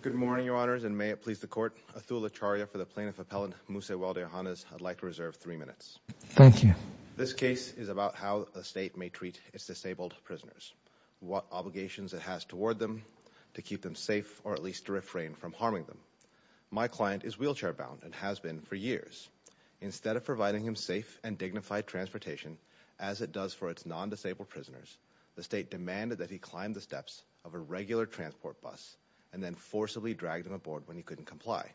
Good morning, Your Honors, and may it please the Court, Atul Acharya for the Plaintiff Appellant Musa Weldeyohannes, I'd like to reserve three minutes. Thank you. This case is about how a state may treat its disabled prisoners. What obligations it has toward them to keep them safe, or at least to refrain from harming them. My client is wheelchair-bound and has been for years. Instead of providing him safe and dignified transportation as it does for its non-disabled prisoners, the state demanded that he climb the steps of a regular transport bus and then forcibly dragged him aboard when he couldn't comply.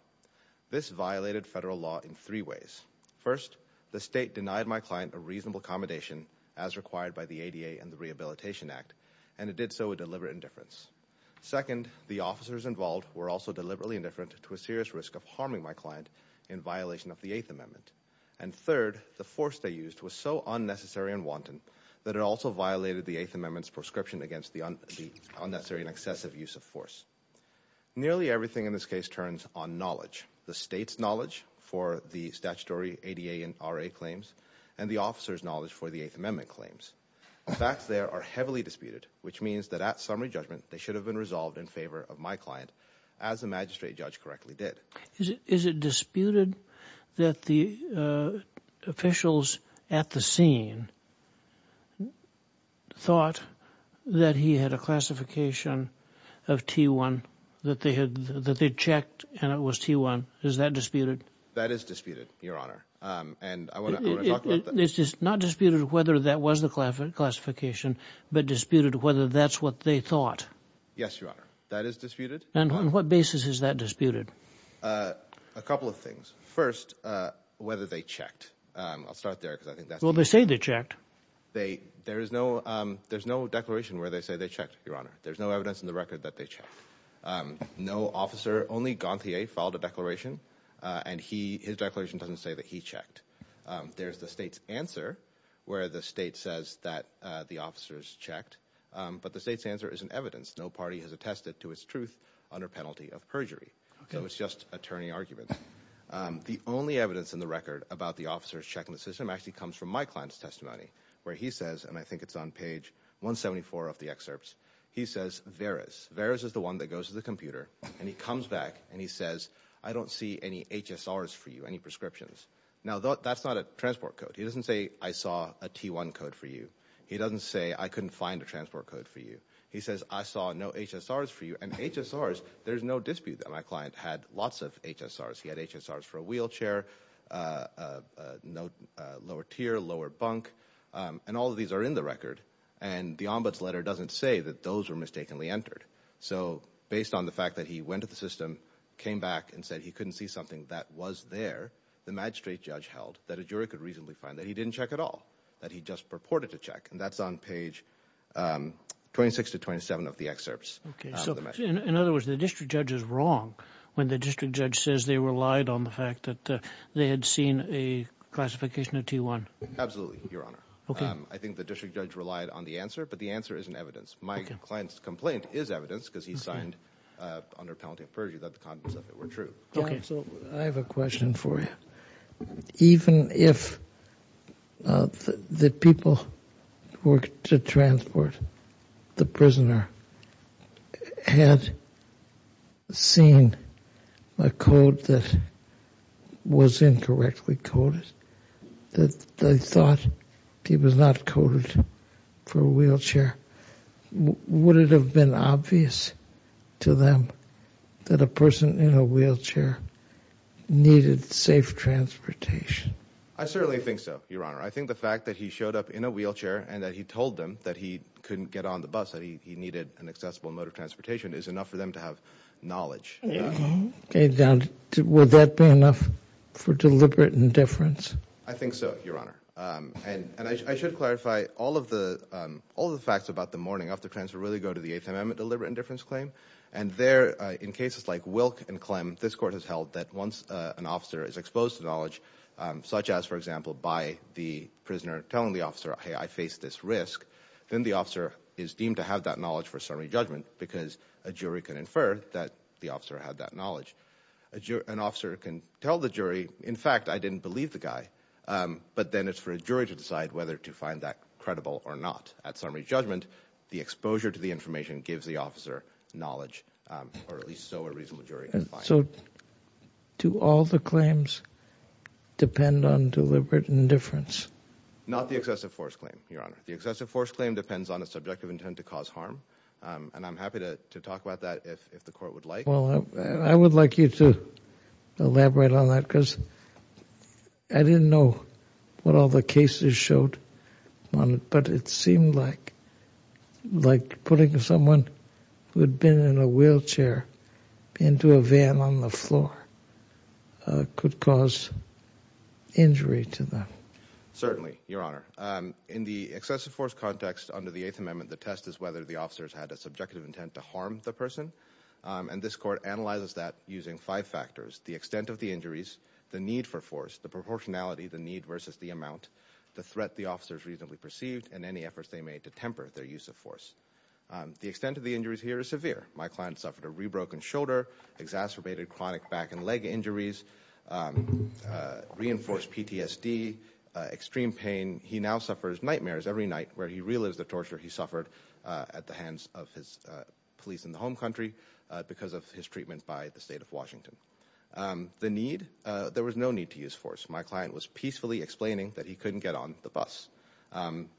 This violated federal law in three ways. First, the state denied my client a reasonable accommodation as required by the ADA and the Rehabilitation Act, and it did so with deliberate indifference. Second, the officers involved were also deliberately indifferent to a serious risk of harming my client in violation of the Eighth Amendment. And third, the force they used was so unnecessary and wanton that it also violated the Eighth Amendment's prescription against the unnecessary and excessive use of force. Nearly everything in this case turns on knowledge, the state's knowledge for the statutory ADA and RA claims, and the officer's knowledge for the Eighth Amendment claims. The facts there are heavily disputed, which means that at summary judgment, they should have been resolved in favor of my client, as the magistrate judge correctly did. Is it disputed that the officials at the scene thought that he had a classification of T1, that they had checked and it was T1? Is that disputed? That is disputed, Your Honor. And I want to talk about that. It's not disputed whether that was the classification, but disputed whether that's what they thought. Yes, Your Honor. That is disputed. And on what basis is that disputed? A couple of things. First, whether they checked. I'll start there. Well, they say they checked. They there is no there's no declaration where they say they checked, Your Honor. There's no evidence in the record that they checked. No officer, only Gantier, filed a declaration and he his declaration doesn't say that he checked. There's the state's answer where the state says that the officers checked. But the state's answer is an evidence. No party has attested to its truth under penalty of perjury. So it's just attorney argument. The only evidence in the record about the officers checking the system actually comes from my client's testimony, where he says, and I think it's on page 174 of the excerpts. He says, Varis, Varis is the one that goes to the computer and he comes back and he says, I don't see any HSRs for you, any prescriptions. Now, that's not a transport code. He doesn't say I saw a T1 code for you. He doesn't say I couldn't find a transport code for you. He says, I saw no HSRs for you. And HSRs, there's no dispute that my client had lots of HSRs. He had HSRs for a wheelchair, lower tier, lower bunk. And all of these are in the record. And the ombuds letter doesn't say that those were mistakenly entered. So based on the fact that he went to the system, came back and said he couldn't see something that was there, the magistrate judge held that a jury could reasonably find that he didn't check at all, that he just purported to check. And that's on page 26 to 27 of the excerpts. OK, so in other words, the district judge is wrong when the district judge says they relied on the fact that they had seen a classification of T1. Absolutely, Your Honor. I think the district judge relied on the answer, but the answer isn't evidence. My client's complaint is evidence because he signed under penalty of perjury that the contents of it were true. I have a question for you. Even if the people who were to transport the prisoner had seen a code that was incorrectly coded, that they thought he was not coded for a wheelchair, would it have been obvious to them that a person in a wheelchair needed safe transportation? I certainly think so, Your Honor. I think the fact that he showed up in a wheelchair and that he told them that he couldn't get on the bus, that he needed an accessible mode of transportation is enough for them to have knowledge. OK, would that be enough for deliberate indifference? I think so, Your Honor. And I should clarify, all of the facts about the morning after transfer really go to the Eighth Amendment deliberate indifference claim. And there, in cases like Wilk and Clem, this court has held that once an officer is exposed to knowledge, such as, for example, by the prisoner telling the officer, hey, I face this risk, then the officer is deemed to have that knowledge for summary judgment because a jury can infer that the officer had that knowledge. An officer can tell the jury, in fact, I didn't believe the guy. But then it's for a jury to decide whether to find that credible or not. At summary judgment, the exposure to the information gives the officer knowledge, or at least so a reasonable jury can find. So do all the claims depend on deliberate indifference? Not the excessive force claim, Your Honor. The excessive force claim depends on a subjective intent to cause harm. And I'm happy to talk about that if the court would like. Well, I would like you to elaborate on that because I didn't know what all the cases showed on it. But it seemed like like putting someone who had been in a wheelchair into a van on the floor could cause injury to them. Certainly, Your Honor. In the excessive force context under the Eighth Amendment, the test is whether the officers had a subjective intent to harm the person. And this court analyzes that using five factors, the extent of the injuries, the need for force, the proportionality, the need versus the amount, the threat the officers reasonably perceived, and any efforts they made to temper their use of force. The extent of the injuries here is severe. My client suffered a rebroken shoulder, exacerbated chronic back and leg injuries, reinforced PTSD, extreme pain. He now suffers nightmares every night where he realizes the torture he suffered at the hands of his police in the home country because of his treatment by the state of Washington. The need, there was no need to use force. My client was peacefully explaining that he couldn't get on the bus.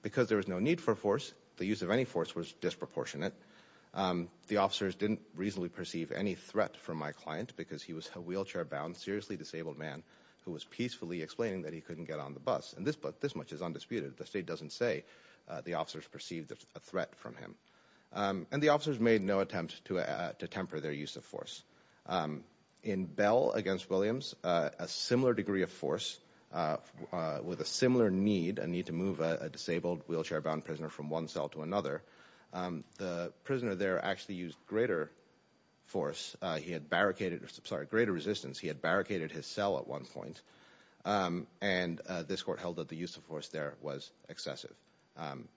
Because there was no need for force, the use of any force was disproportionate. The officers didn't reasonably perceive any threat from my client because he was a wheelchair-bound, seriously disabled man who was peacefully explaining that he couldn't get on the bus. And this much is undisputed. The state doesn't say the officers perceived a threat from him. And the officers made no attempt to temper their use of force. In Bell against Williams, a similar degree of force with a similar need, a need to move a disabled wheelchair-bound prisoner from one cell to another. The prisoner there actually used greater force. He had barricaded, sorry, greater resistance. He had barricaded his cell at one point. And this court held that the use of force there was excessive.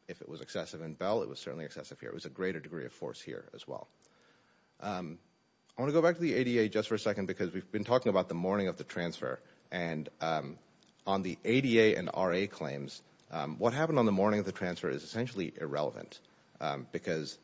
If it was excessive in Bell, it was certainly excessive here. It was a greater degree of force here as well. I want to go back to the ADA just for a second because we've been talking about the morning of the transfer. And on the ADA and RA claims, what happened on the morning of the transfer is essentially irrelevant. Because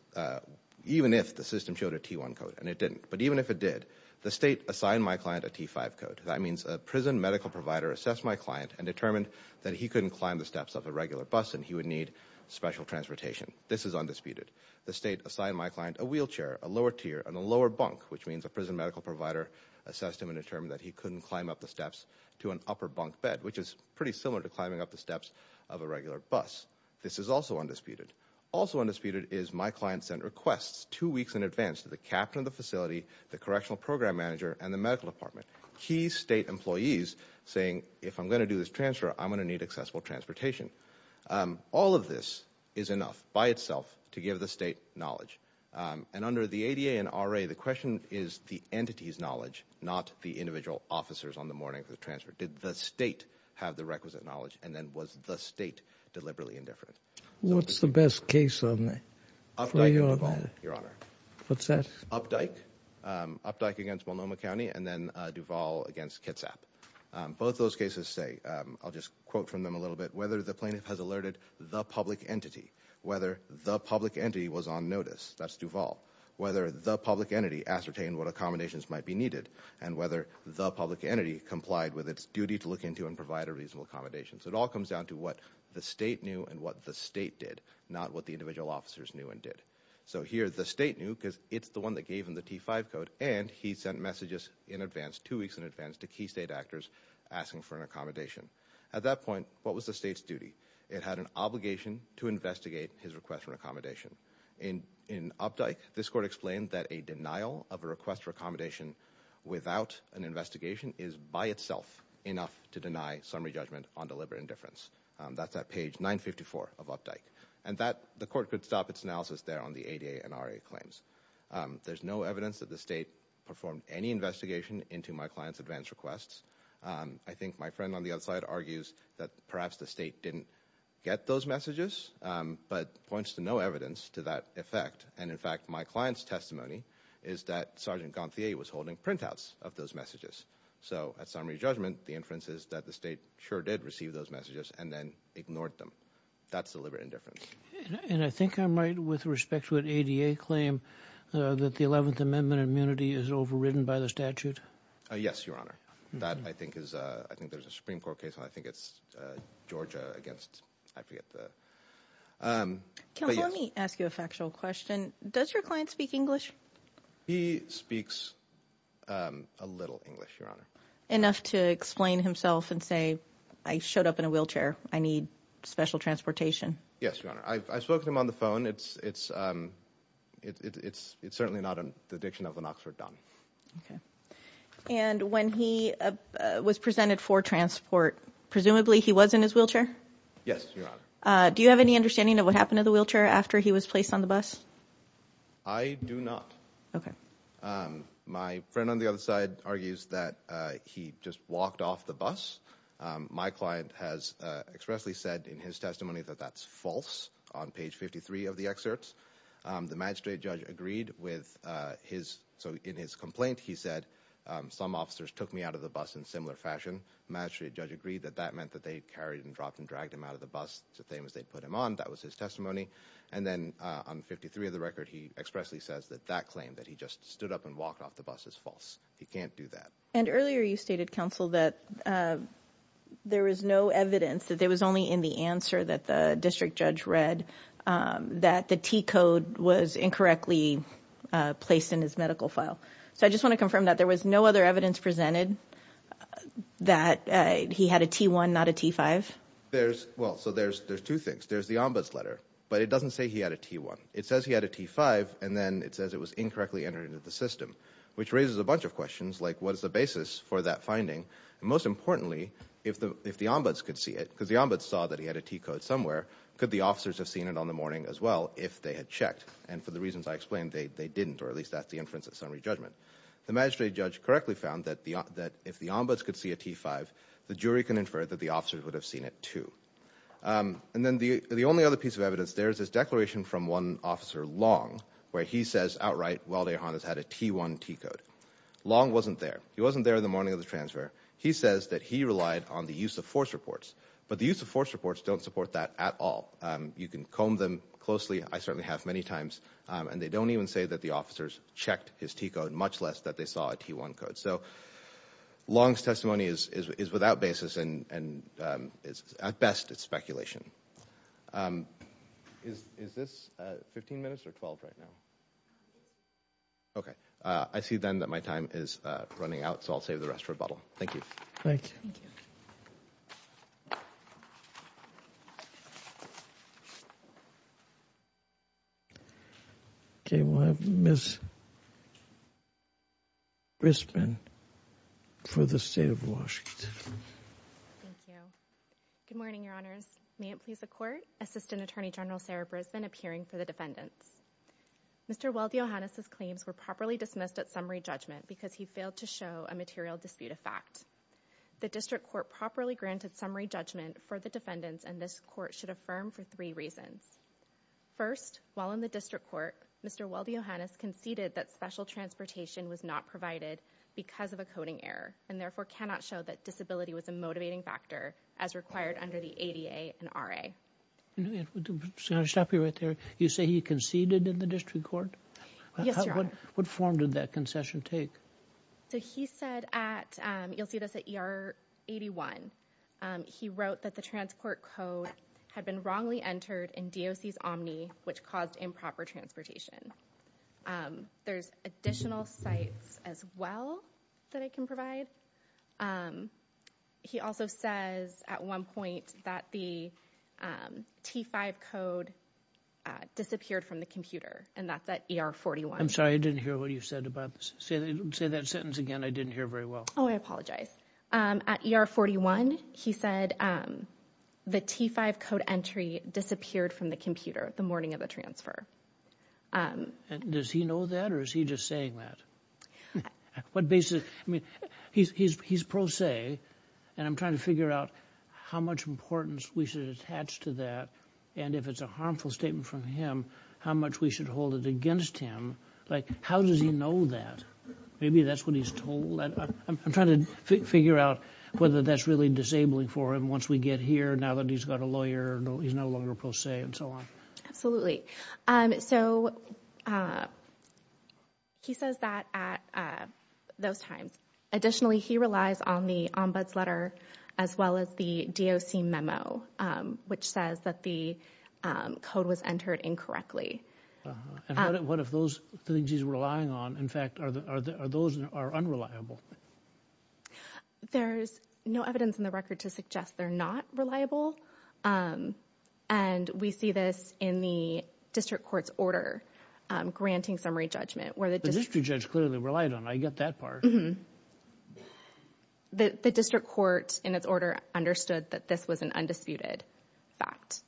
even if the system showed a T1 code, and it didn't, but even if it did, the state assigned my client a T5 code. That means a prison medical provider assessed my client and determined that he couldn't climb the steps of a regular bus and he would need special transportation. This is undisputed. The state assigned my client a wheelchair, a lower tier, and a lower bunk, which means a prison medical provider assessed him and determined that he couldn't climb up the steps to an upper bunk bed, which is pretty similar to climbing up the steps of a regular bus. This is also undisputed. Also undisputed is my client sent requests two weeks in advance to the captain of the facility, the correctional program manager, and the medical department. Key state employees saying, if I'm going to do this transfer, I'm going to need accessible transportation. All of this is enough by itself to give the state knowledge. And under the ADA and RA, the question is the entity's knowledge, not the individual officers on the morning of the transfer. Did the state have the requisite knowledge? And then was the state deliberately indifferent? What's the best case for you on that? Your Honor. What's that? Updike, Updike against Multnomah County, and then Duval against Kitsap. Both those cases say, I'll just quote from them a little bit, whether the plaintiff has alerted the public entity, whether the public entity was on notice, that's Duval, whether the public entity ascertained what accommodations might be needed, and whether the public entity complied with its duty to look into and provide a reasonable accommodation. So it all comes down to what the state knew and what the state did, not what the individual officers knew and did. So here, the state knew because it's the one that gave him the T5 code, and he sent messages in advance, two weeks in advance, to key state actors asking for an accommodation. At that point, what was the state's duty? It had an obligation to investigate his request for accommodation. In Updike, this court explained that a denial of a request for accommodation without an investigation is by itself enough to deny summary judgment on deliberate indifference. That's at page 954 of Updike. And that, the court could stop its analysis there on the ADA and RA claims. There's no evidence that the state performed any investigation into my client's advance requests. I think my friend on the other side argues that perhaps the state didn't get those messages, but points to no evidence to that effect. And in fact, my client's testimony is that Sergeant Gonthier was holding printouts of those messages. So at summary judgment, the inference is that the state sure did receive those messages and then ignored them. That's deliberate indifference. And I think I'm right with respect to an ADA claim that the 11th Amendment immunity is overridden by the statute. Yes, Your Honor. That, I think, is I think there's a Supreme Court case. I think it's Georgia against, I forget the. Can let me ask you a factual question. Does your client speak English? He speaks a little English, Your Honor. Enough to explain himself and say, I showed up in a wheelchair. I need special transportation. Yes, Your Honor. I spoke to him on the phone. It's it's it's it's it's certainly not a dediction of an Oxford Don. And when he was presented for transport, presumably he was in his wheelchair. Yes, Your Honor. Do you have any understanding of what happened to the wheelchair after he was placed on the bus? I do not. Okay. My friend on the other side argues that he just walked off the bus. My client has expressly said in his testimony that that's false. On page 53 of the excerpts, the magistrate judge agreed with his. So in his complaint, he said some officers took me out of the bus in similar fashion. Magistrate judge agreed that that meant that they carried and dropped and dragged him out of the bus. So they was they put him on. That was his testimony. And then on 53 of the record, he expressly says that that claim that he just stood up and walked off the bus is false. He can't do that. And earlier, you stated, counsel, that there was no evidence that there was only in the answer that the district judge read that the T code was incorrectly placed in his medical file. So I just want to confirm that there was no other evidence presented that he had a T1, not a T5. There's well, so there's there's two things. There's the ombuds letter, but it doesn't say he had a T1. It says he had a T5 and then it says it was incorrectly entered into the system, which raises a bunch of questions like what was the basis for that finding? And most importantly, if the if the ombuds could see it because the ombuds saw that he had a T code somewhere, could the officers have seen it on the morning as well if they had checked? And for the reasons I explained, they didn't, or at least that's the inference of summary judgment. The magistrate judge correctly found that that if the ombuds could see a T5, the jury can infer that the officers would have seen it too. And then the only other piece of evidence there is this declaration from one officer long where he says outright, well, they had a T1 T code. Long wasn't there. He wasn't there in the morning of the transfer. He says that he relied on the use of force reports, but the use of force reports don't support that at all. You can comb them closely. I certainly have many times and they don't even say that the officers checked his T code, much less that they saw a T1 code. So, Long's testimony is is without basis and and it's at best it's speculation. Is this 15 minutes or 12 right now? OK, I see then that my time is running out, so I'll save the rest for a bottle. Thank you. Thank you. OK, we'll have Miss Grissman for the state of Washington. Thank you. Good morning, Your Honors. May it please the court. Assistant Attorney General Sarah Brisbane appearing for the defendants. Mr. Weldy-Ohanas' claims were properly dismissed at summary judgment because he failed to show a material dispute of fact. The district court properly granted summary judgment for the defendants, and this court should affirm for three reasons. First, while in the district court, Mr. Weldy-Ohanas conceded that special transportation was not provided because of a coding error and therefore cannot show that disability was a motivating factor as required under the ADA and RA. I'm going to stop you right there. You say he conceded in the district court? Yes, Your Honor. What form did that concession take? So he said at, you'll see this at ER 81, he wrote that the transport code had been wrongly entered in DOC's Omni, which caused improper transportation. There's additional sites as well that I can provide. He also says at one point that the T5 code disappeared from the computer and that's at ER 41. I'm sorry. I didn't hear what you said about this. Say that sentence again. I didn't hear very well. Oh, I apologize. At ER 41, he said the T5 code entry disappeared from the computer the morning of the transfer. And does he know that or is he just saying that? What basis? I mean, he's pro se and I'm trying to figure out how much importance we should attach to that. And if it's a harmful statement from him, how much we should hold it against him. Like, how does he know that? Maybe that's what he's told. I'm trying to figure out whether that's really disabling for him once we get here, now that he's got a lawyer, he's no longer pro se and so on. Absolutely. So he says that at those times. Additionally, he relies on the ombuds letter as well as the DOC memo, which says that the code was entered incorrectly. What if those things he's relying on, in fact, are those are unreliable? There's no evidence in the record to suggest they're not reliable. And we see this in the district court's order granting summary judgment where the district judge clearly relied on. I get that part. The district court in its order understood that this was an undisputed fact.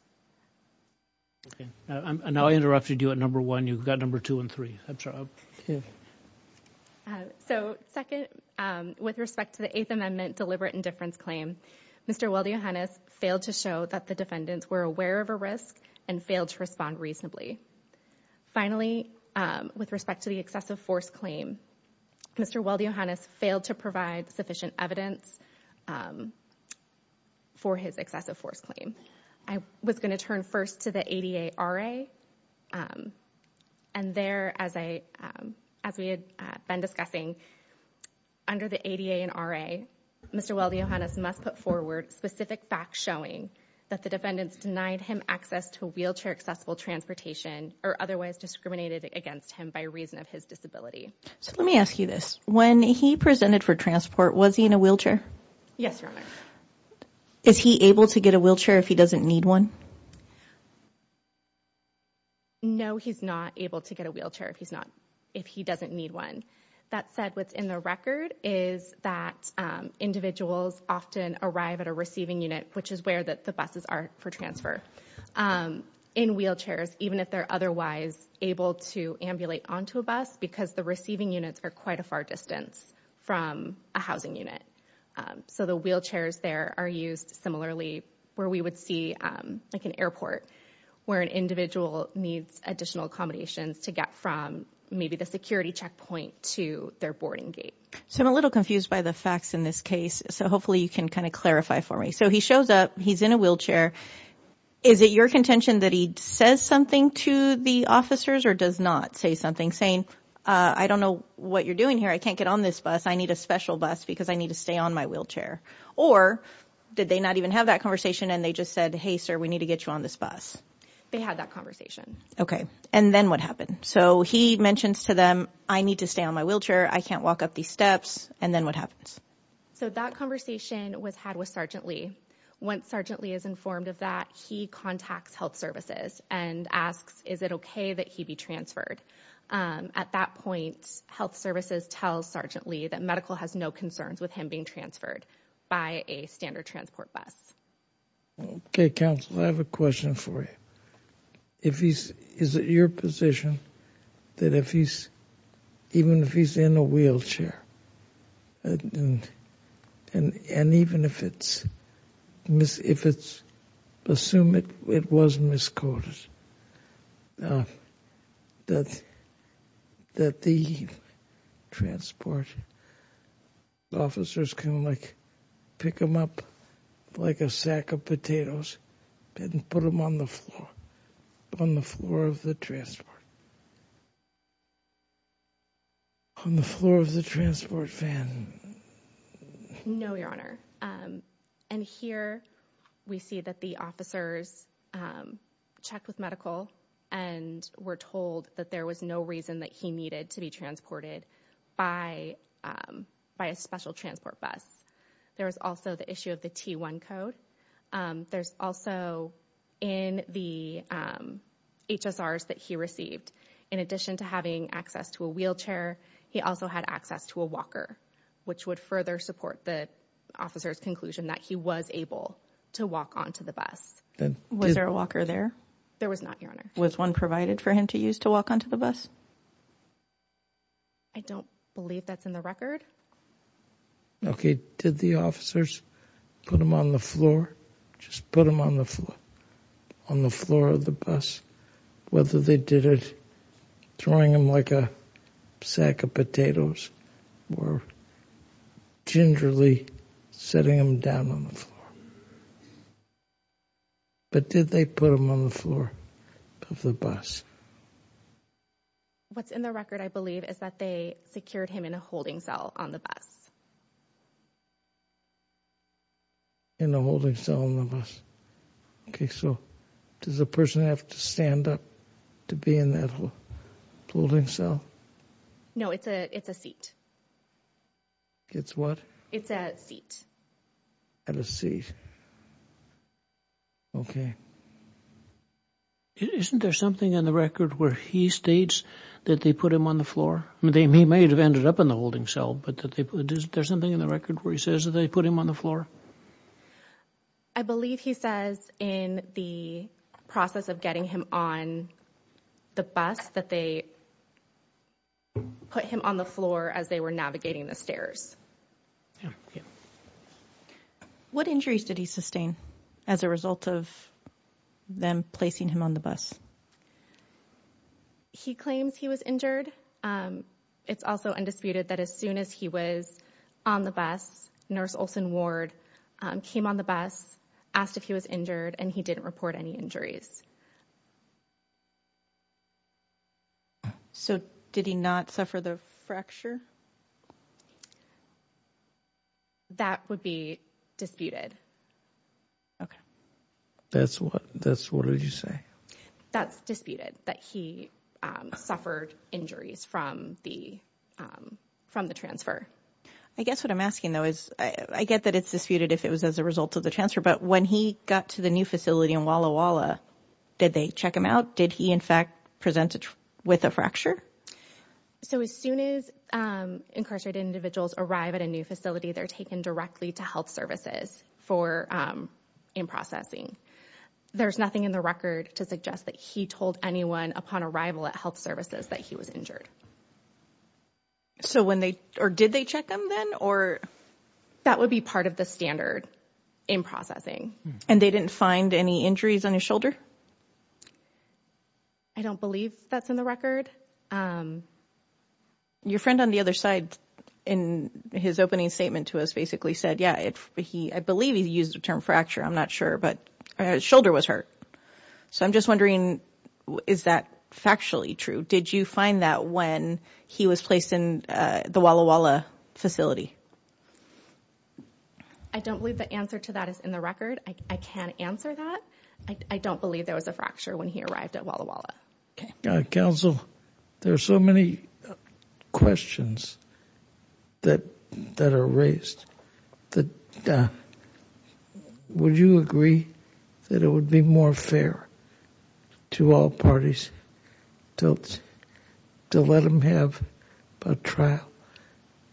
Now, I interrupted you at number one, you've got number two and three. I'm sorry. So second, with respect to the Eighth Amendment deliberate indifference claim, Mr. Weldy-Johannes failed to show that the defendants were aware of a risk and failed to respond reasonably. Finally, with respect to the excessive force claim, Mr. Weldy-Johannes failed to provide sufficient evidence for his excessive force claim. I was going to turn first to the ADA RA. And there, as we had been discussing, under the ADA and RA, Mr. Weldy-Johannes must put forward specific facts showing that the defendants denied him access to wheelchair accessible transportation or otherwise discriminated against him by reason of his disability. So let me ask you this. When he presented for transport, was he in a wheelchair? Yes, Your Honor. Is he able to get a wheelchair if he doesn't need one? No, he's not able to get a wheelchair if he doesn't need one. That said, what's in the record is that individuals often arrive at a receiving unit, which is where the buses are for transfer, in wheelchairs, even if they're otherwise able to ambulate onto a bus, because the receiving units are quite a far distance from a housing unit. So the wheelchairs there are used similarly where we would see like an airport where an individual needs additional accommodations to get from maybe the security checkpoint to their boarding gate. So I'm a little confused by the facts in this case. So hopefully you can kind of clarify for me. So he shows up, he's in a wheelchair. Is it your contention that he says something to the officers or does not say something, saying, I don't know what you're doing here, I can't get on this bus, I need a special bus because I need to stay on my wheelchair? Or did they not even have that conversation and they just said, hey, sir, we need to get you on this bus? They had that conversation. OK, and then what happened? So he mentions to them, I need to stay on my wheelchair, I can't walk up these steps. And then what happens? So that conversation was had with Sergeant Lee. Once Sergeant Lee is informed of that, he contacts health services and asks, is it OK that he be transferred? At that point, health services tell Sergeant Lee that medical has no concerns with him being transferred by a standard transport bus. OK, counsel, I have a question for you. If he's is it your position that if he's even if he's in a wheelchair and and even if it's if it's assume it was misquoted, that that the transport officers can pick him up like a sack of potatoes and put him on the floor, on the floor of the transport. On the floor of the transport van. No, your honor. And here we see that the officers checked with medical and were told that there was no reason that he needed to be transported by by a special transport bus. There was also the issue of the T1 code. There's also in the HSRs that he received, in addition to having access to a wheelchair, he also had access to a walker. Which would further support the officer's conclusion that he was able to walk onto the bus. Was there a walker there? There was not, your honor. Was one provided for him to use to walk onto the bus? I don't believe that's in the record. OK, did the officers put him on the floor, just put him on the floor on the floor of the bus? Whether they did it, throwing him like a sack of potatoes or gingerly setting him down on the floor. But did they put him on the floor of the bus? What's in the record, I believe, is that they secured him in a holding cell on the bus. In a holding cell on the bus. OK, so does the person have to stand up to be in that holding cell? No, it's a it's a seat. It's what? It's a seat. And a seat. OK. Isn't there something in the record where he states that they put him on the floor? I mean, they may have ended up in the holding cell, but that there's something in the record where he says that they put him on the floor. I believe he says in the process of getting him on the bus that they. Put him on the floor as they were navigating the stairs. What injuries did he sustain as a result of them placing him on the bus? He claims he was injured. And it's also undisputed that as soon as he was on the bus, Nurse Olson Ward came on the bus, asked if he was injured and he didn't report any injuries. So did he not suffer the fracture? That would be disputed. OK. That's what that's what did you say? That's disputed that he suffered injuries from the from the transfer. I guess what I'm asking, though, is I get that it's disputed if it was as a result of the transfer. But when he got to the new facility in Walla Walla, did they check him out? Did he, in fact, present it with a fracture? So as soon as incarcerated individuals arrive at a new facility, they're taken directly to health services for in processing. There's nothing in the record to suggest that he told anyone upon arrival at health services that he was injured. So when they or did they check them then or that would be part of the standard in processing and they didn't find any injuries on his shoulder? I don't believe that's in the record. Your friend on the other side in his opening statement to us basically said, yeah, he I believe he used the term fracture. I'm not sure, but his shoulder was hurt. So I'm just wondering, is that factually true? Did you find that when he was placed in the Walla Walla facility? I don't believe the answer to that is in the record. I can't answer that. I don't believe there was a fracture when he arrived at Walla Walla. Counsel, there are so many questions that that are raised that would you agree that it would be more fair to all parties to let them have a trial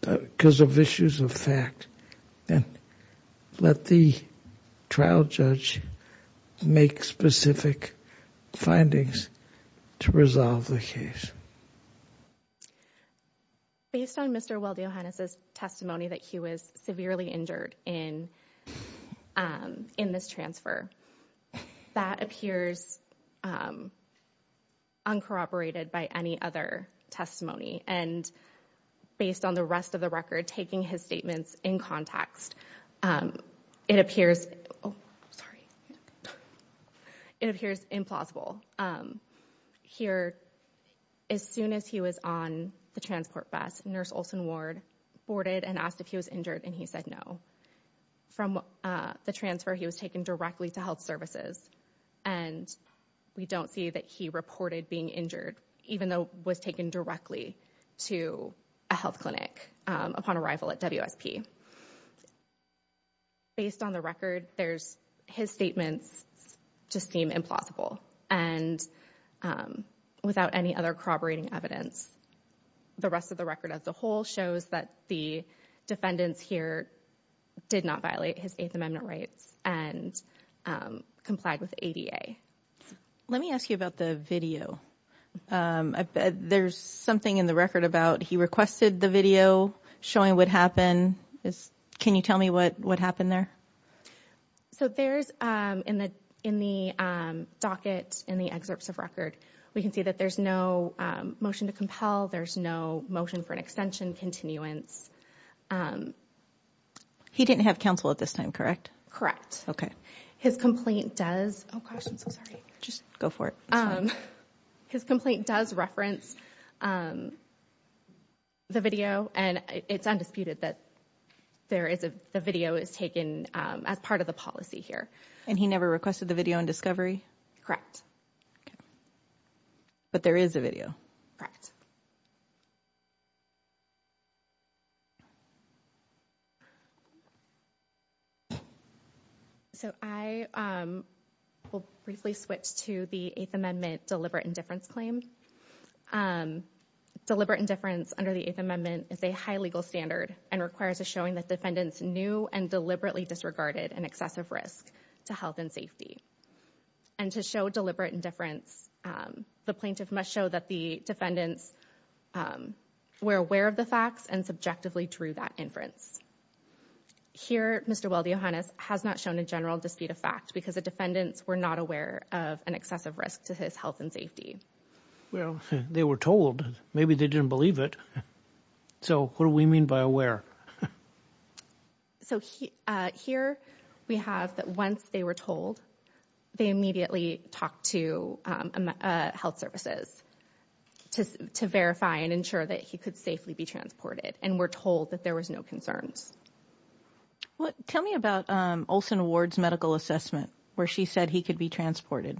because of issues of fact and let the trial judge make specific findings? To resolve the case. Based on Mr. Weldy Ohanis testimony that he was severely injured in in this transfer, that appears uncorroborated by any other testimony. And based on the rest of the record, taking his statements in context, it appears, oh, sorry, it appears implausible. Here, as soon as he was on the transport bus, Nurse Olson Ward boarded and asked if he was injured and he said no from the transfer. He was taken directly to health services and we don't see that he reported being injured, even though was taken directly to a health clinic upon arrival at WSP. Based on the record, there's his statements just seem implausible and without any other corroborating evidence, the rest of the record as a whole shows that the defendants here did not violate his Eighth Amendment rights and complied with ADA. Let me ask you about the video. There's something in the record about he requested the video showing what happened. Can you tell me what what happened there? So there's in the in the docket in the excerpts of record, we can see that there's no motion to compel. There's no motion for an extension continuance. He didn't have counsel at this time, correct? Correct. OK, his complaint does. Oh, gosh, I'm sorry. Just go for it. His complaint does reference the video and it's undisputed that there is a video is taken as part of the policy here. And he never requested the video and discovery. Correct. But there is a video, correct? So I will briefly switch to the Eighth Amendment deliberate indifference claim. Deliberate indifference under the Eighth Amendment is a high legal standard and requires a showing that defendants knew and deliberately disregarded an excessive risk to health and safety. And to show deliberate indifference, the plaintiff must show that the defendants were aware of the facts and subjectively drew that inference. Here, Mr. Weldy-Johannes has not shown a general dispute of fact because the defendants were not aware of an excessive risk to his health and safety. Well, they were told maybe they didn't believe it. So what do we mean by aware? So here we have that once they were told, they immediately talked to health services to verify and ensure that he could safely be transported and were told that there was no concerns. Well, tell me about Olson Ward's medical assessment where she said he could be transported.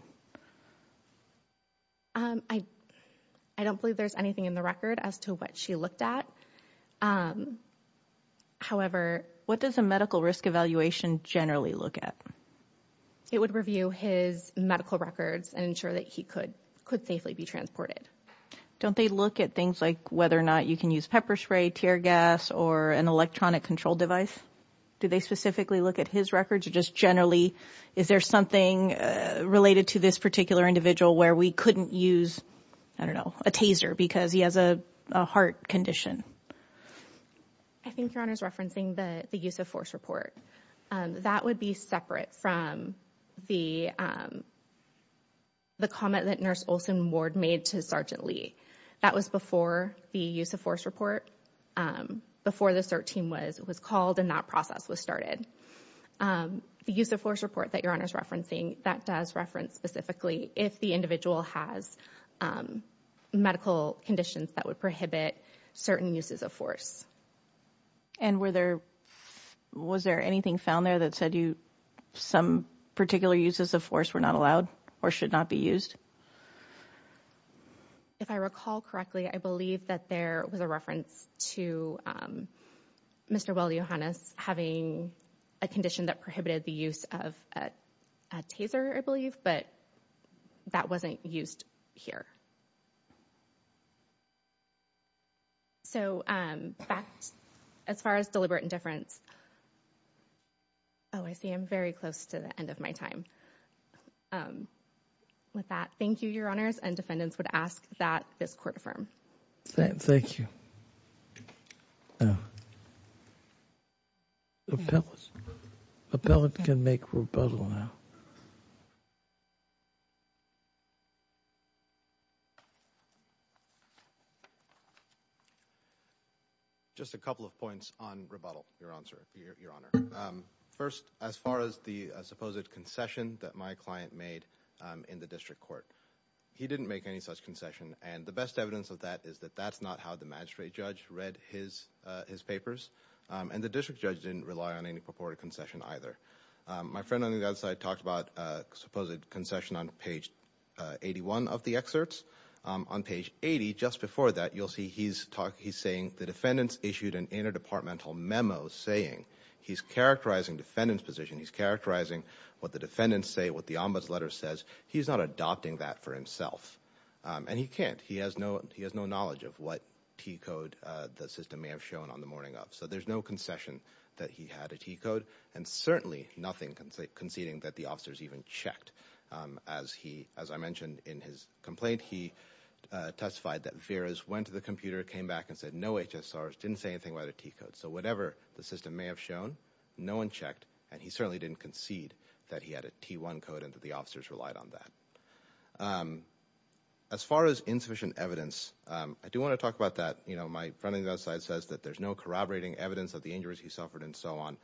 I don't believe there's anything in the record as to what she looked at. However, what does a medical risk evaluation generally look at? It would review his medical records and ensure that he could could safely be transported. Don't they look at things like whether or not you can use pepper spray, tear gas or an electronic control device? Do they specifically look at his records or just generally is there something related to this particular individual where we couldn't use, I don't know, a taser because he has a heart condition? I think your honor is referencing the use of force report. That would be separate from the comment that Nurse Olson Ward made to Sergeant Lee. That was before the use of force report, before the CERT team was called and that process was started. The use of force report that your honor is referencing that does reference specifically if the individual has medical conditions that would prohibit certain uses of force. And were there was there anything found there that said you some particular uses of force were not allowed or should not be used? If I recall correctly, I believe that there was a reference to Mr. Well, your honor's having a condition that prohibited the use of a taser, I believe, but that wasn't used here. So as far as deliberate indifference. Oh, I see. I'm very close to the end of my time. With that, thank you, your honors, and defendants would ask that this court affirm. Thank you. The appellate can make rebuttal now. Just a couple of points on rebuttal, your answer, your honor. First, as far as the supposed concession that my client made in the district court, he didn't make any such concession. And the best evidence of that is that that's not how the magistrate judge read his his papers. And the district judge didn't rely on any purported concession either. My friend on the other side talked about supposed concession on page 81 of the excerpts on page 80. Just before that, you'll see he's saying the defendants issued an interdepartmental memo saying he's characterizing defendant's position. He's characterizing what the defendants say, what the ombuds letter says. He's not adopting that for himself. And he can't, he has no knowledge of what T code the system may have shown on the morning of. So there's no concession that he had a T code, and certainly nothing conceding that the officers even checked. As I mentioned in his complaint, he testified that Veras went to the computer, came back, and said no HSRs, didn't say anything about a T code. So whatever the system may have shown, no one checked, and he certainly didn't concede that he had a T1 code and that the officers relied on that. As far as insufficient evidence, I do want to talk about that. My friend on the other side says that there's no corroborating evidence of the injuries he suffered and so on.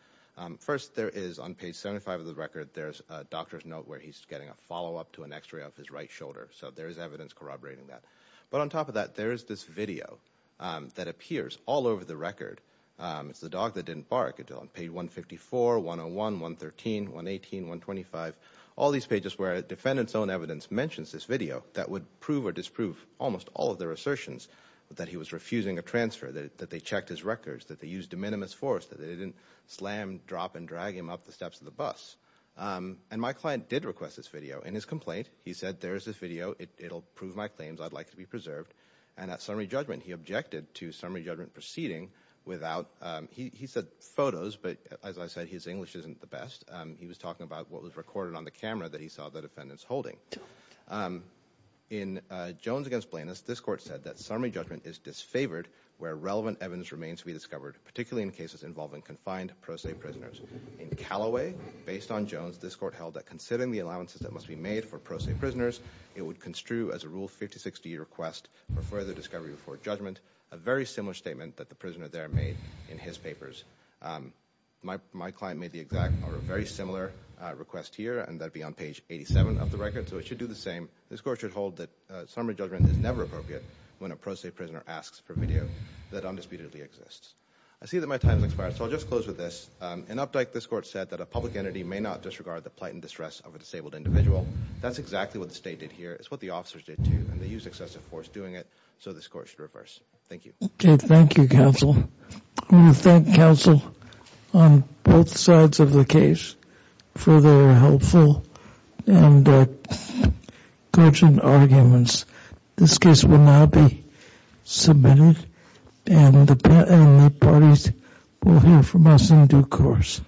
First, there is on page 75 of the record, there's a doctor's note where he's getting a follow up to an x-ray of his right shoulder. So there is evidence corroborating that. But on top of that, there is this video that appears all over the record. It's the dog that didn't bark until on page 154, 101, 113, 118, 125. All these pages where a defendant's own evidence mentions this video that would prove or disprove almost all of their assertions that he was refusing a transfer. That they checked his records, that they used de minimis force, that they didn't slam, drop, and drag him up the steps of the bus. And my client did request this video. In his complaint, he said, there's this video, it'll prove my claims, I'd like to be preserved. And at summary judgment, he objected to summary judgment proceeding without, he said photos, but as I said, his English isn't the best. He was talking about what was recorded on the camera that he saw the defendants holding. In Jones against Blanus, this court said that summary judgment is disfavored where relevant evidence remains to be discovered, particularly in cases involving confined pro se prisoners. In Calloway, based on Jones, this court held that considering the allowances that must be made for pro se prisoners, it would construe as a rule 5060 request for further discovery before judgment. A very similar statement that the prisoner there made in his papers. My client made the exact, or a very similar request here, and that'd be on page 87 of the record, so it should do the same. This court should hold that summary judgment is never appropriate when a pro se prisoner asks for video that undisputedly exists. I see that my time has expired, so I'll just close with this. An update, this court said that a public entity may not disregard the plight and distress of a disabled individual. That's exactly what the state did here. It's what the officers did too, and they used excessive force doing it, so this court should reverse. Thank you. Okay, thank you, counsel. I want to thank counsel on both sides of the case for their helpful and cogent arguments. This case will now be submitted, and the parties will hear from us in due course.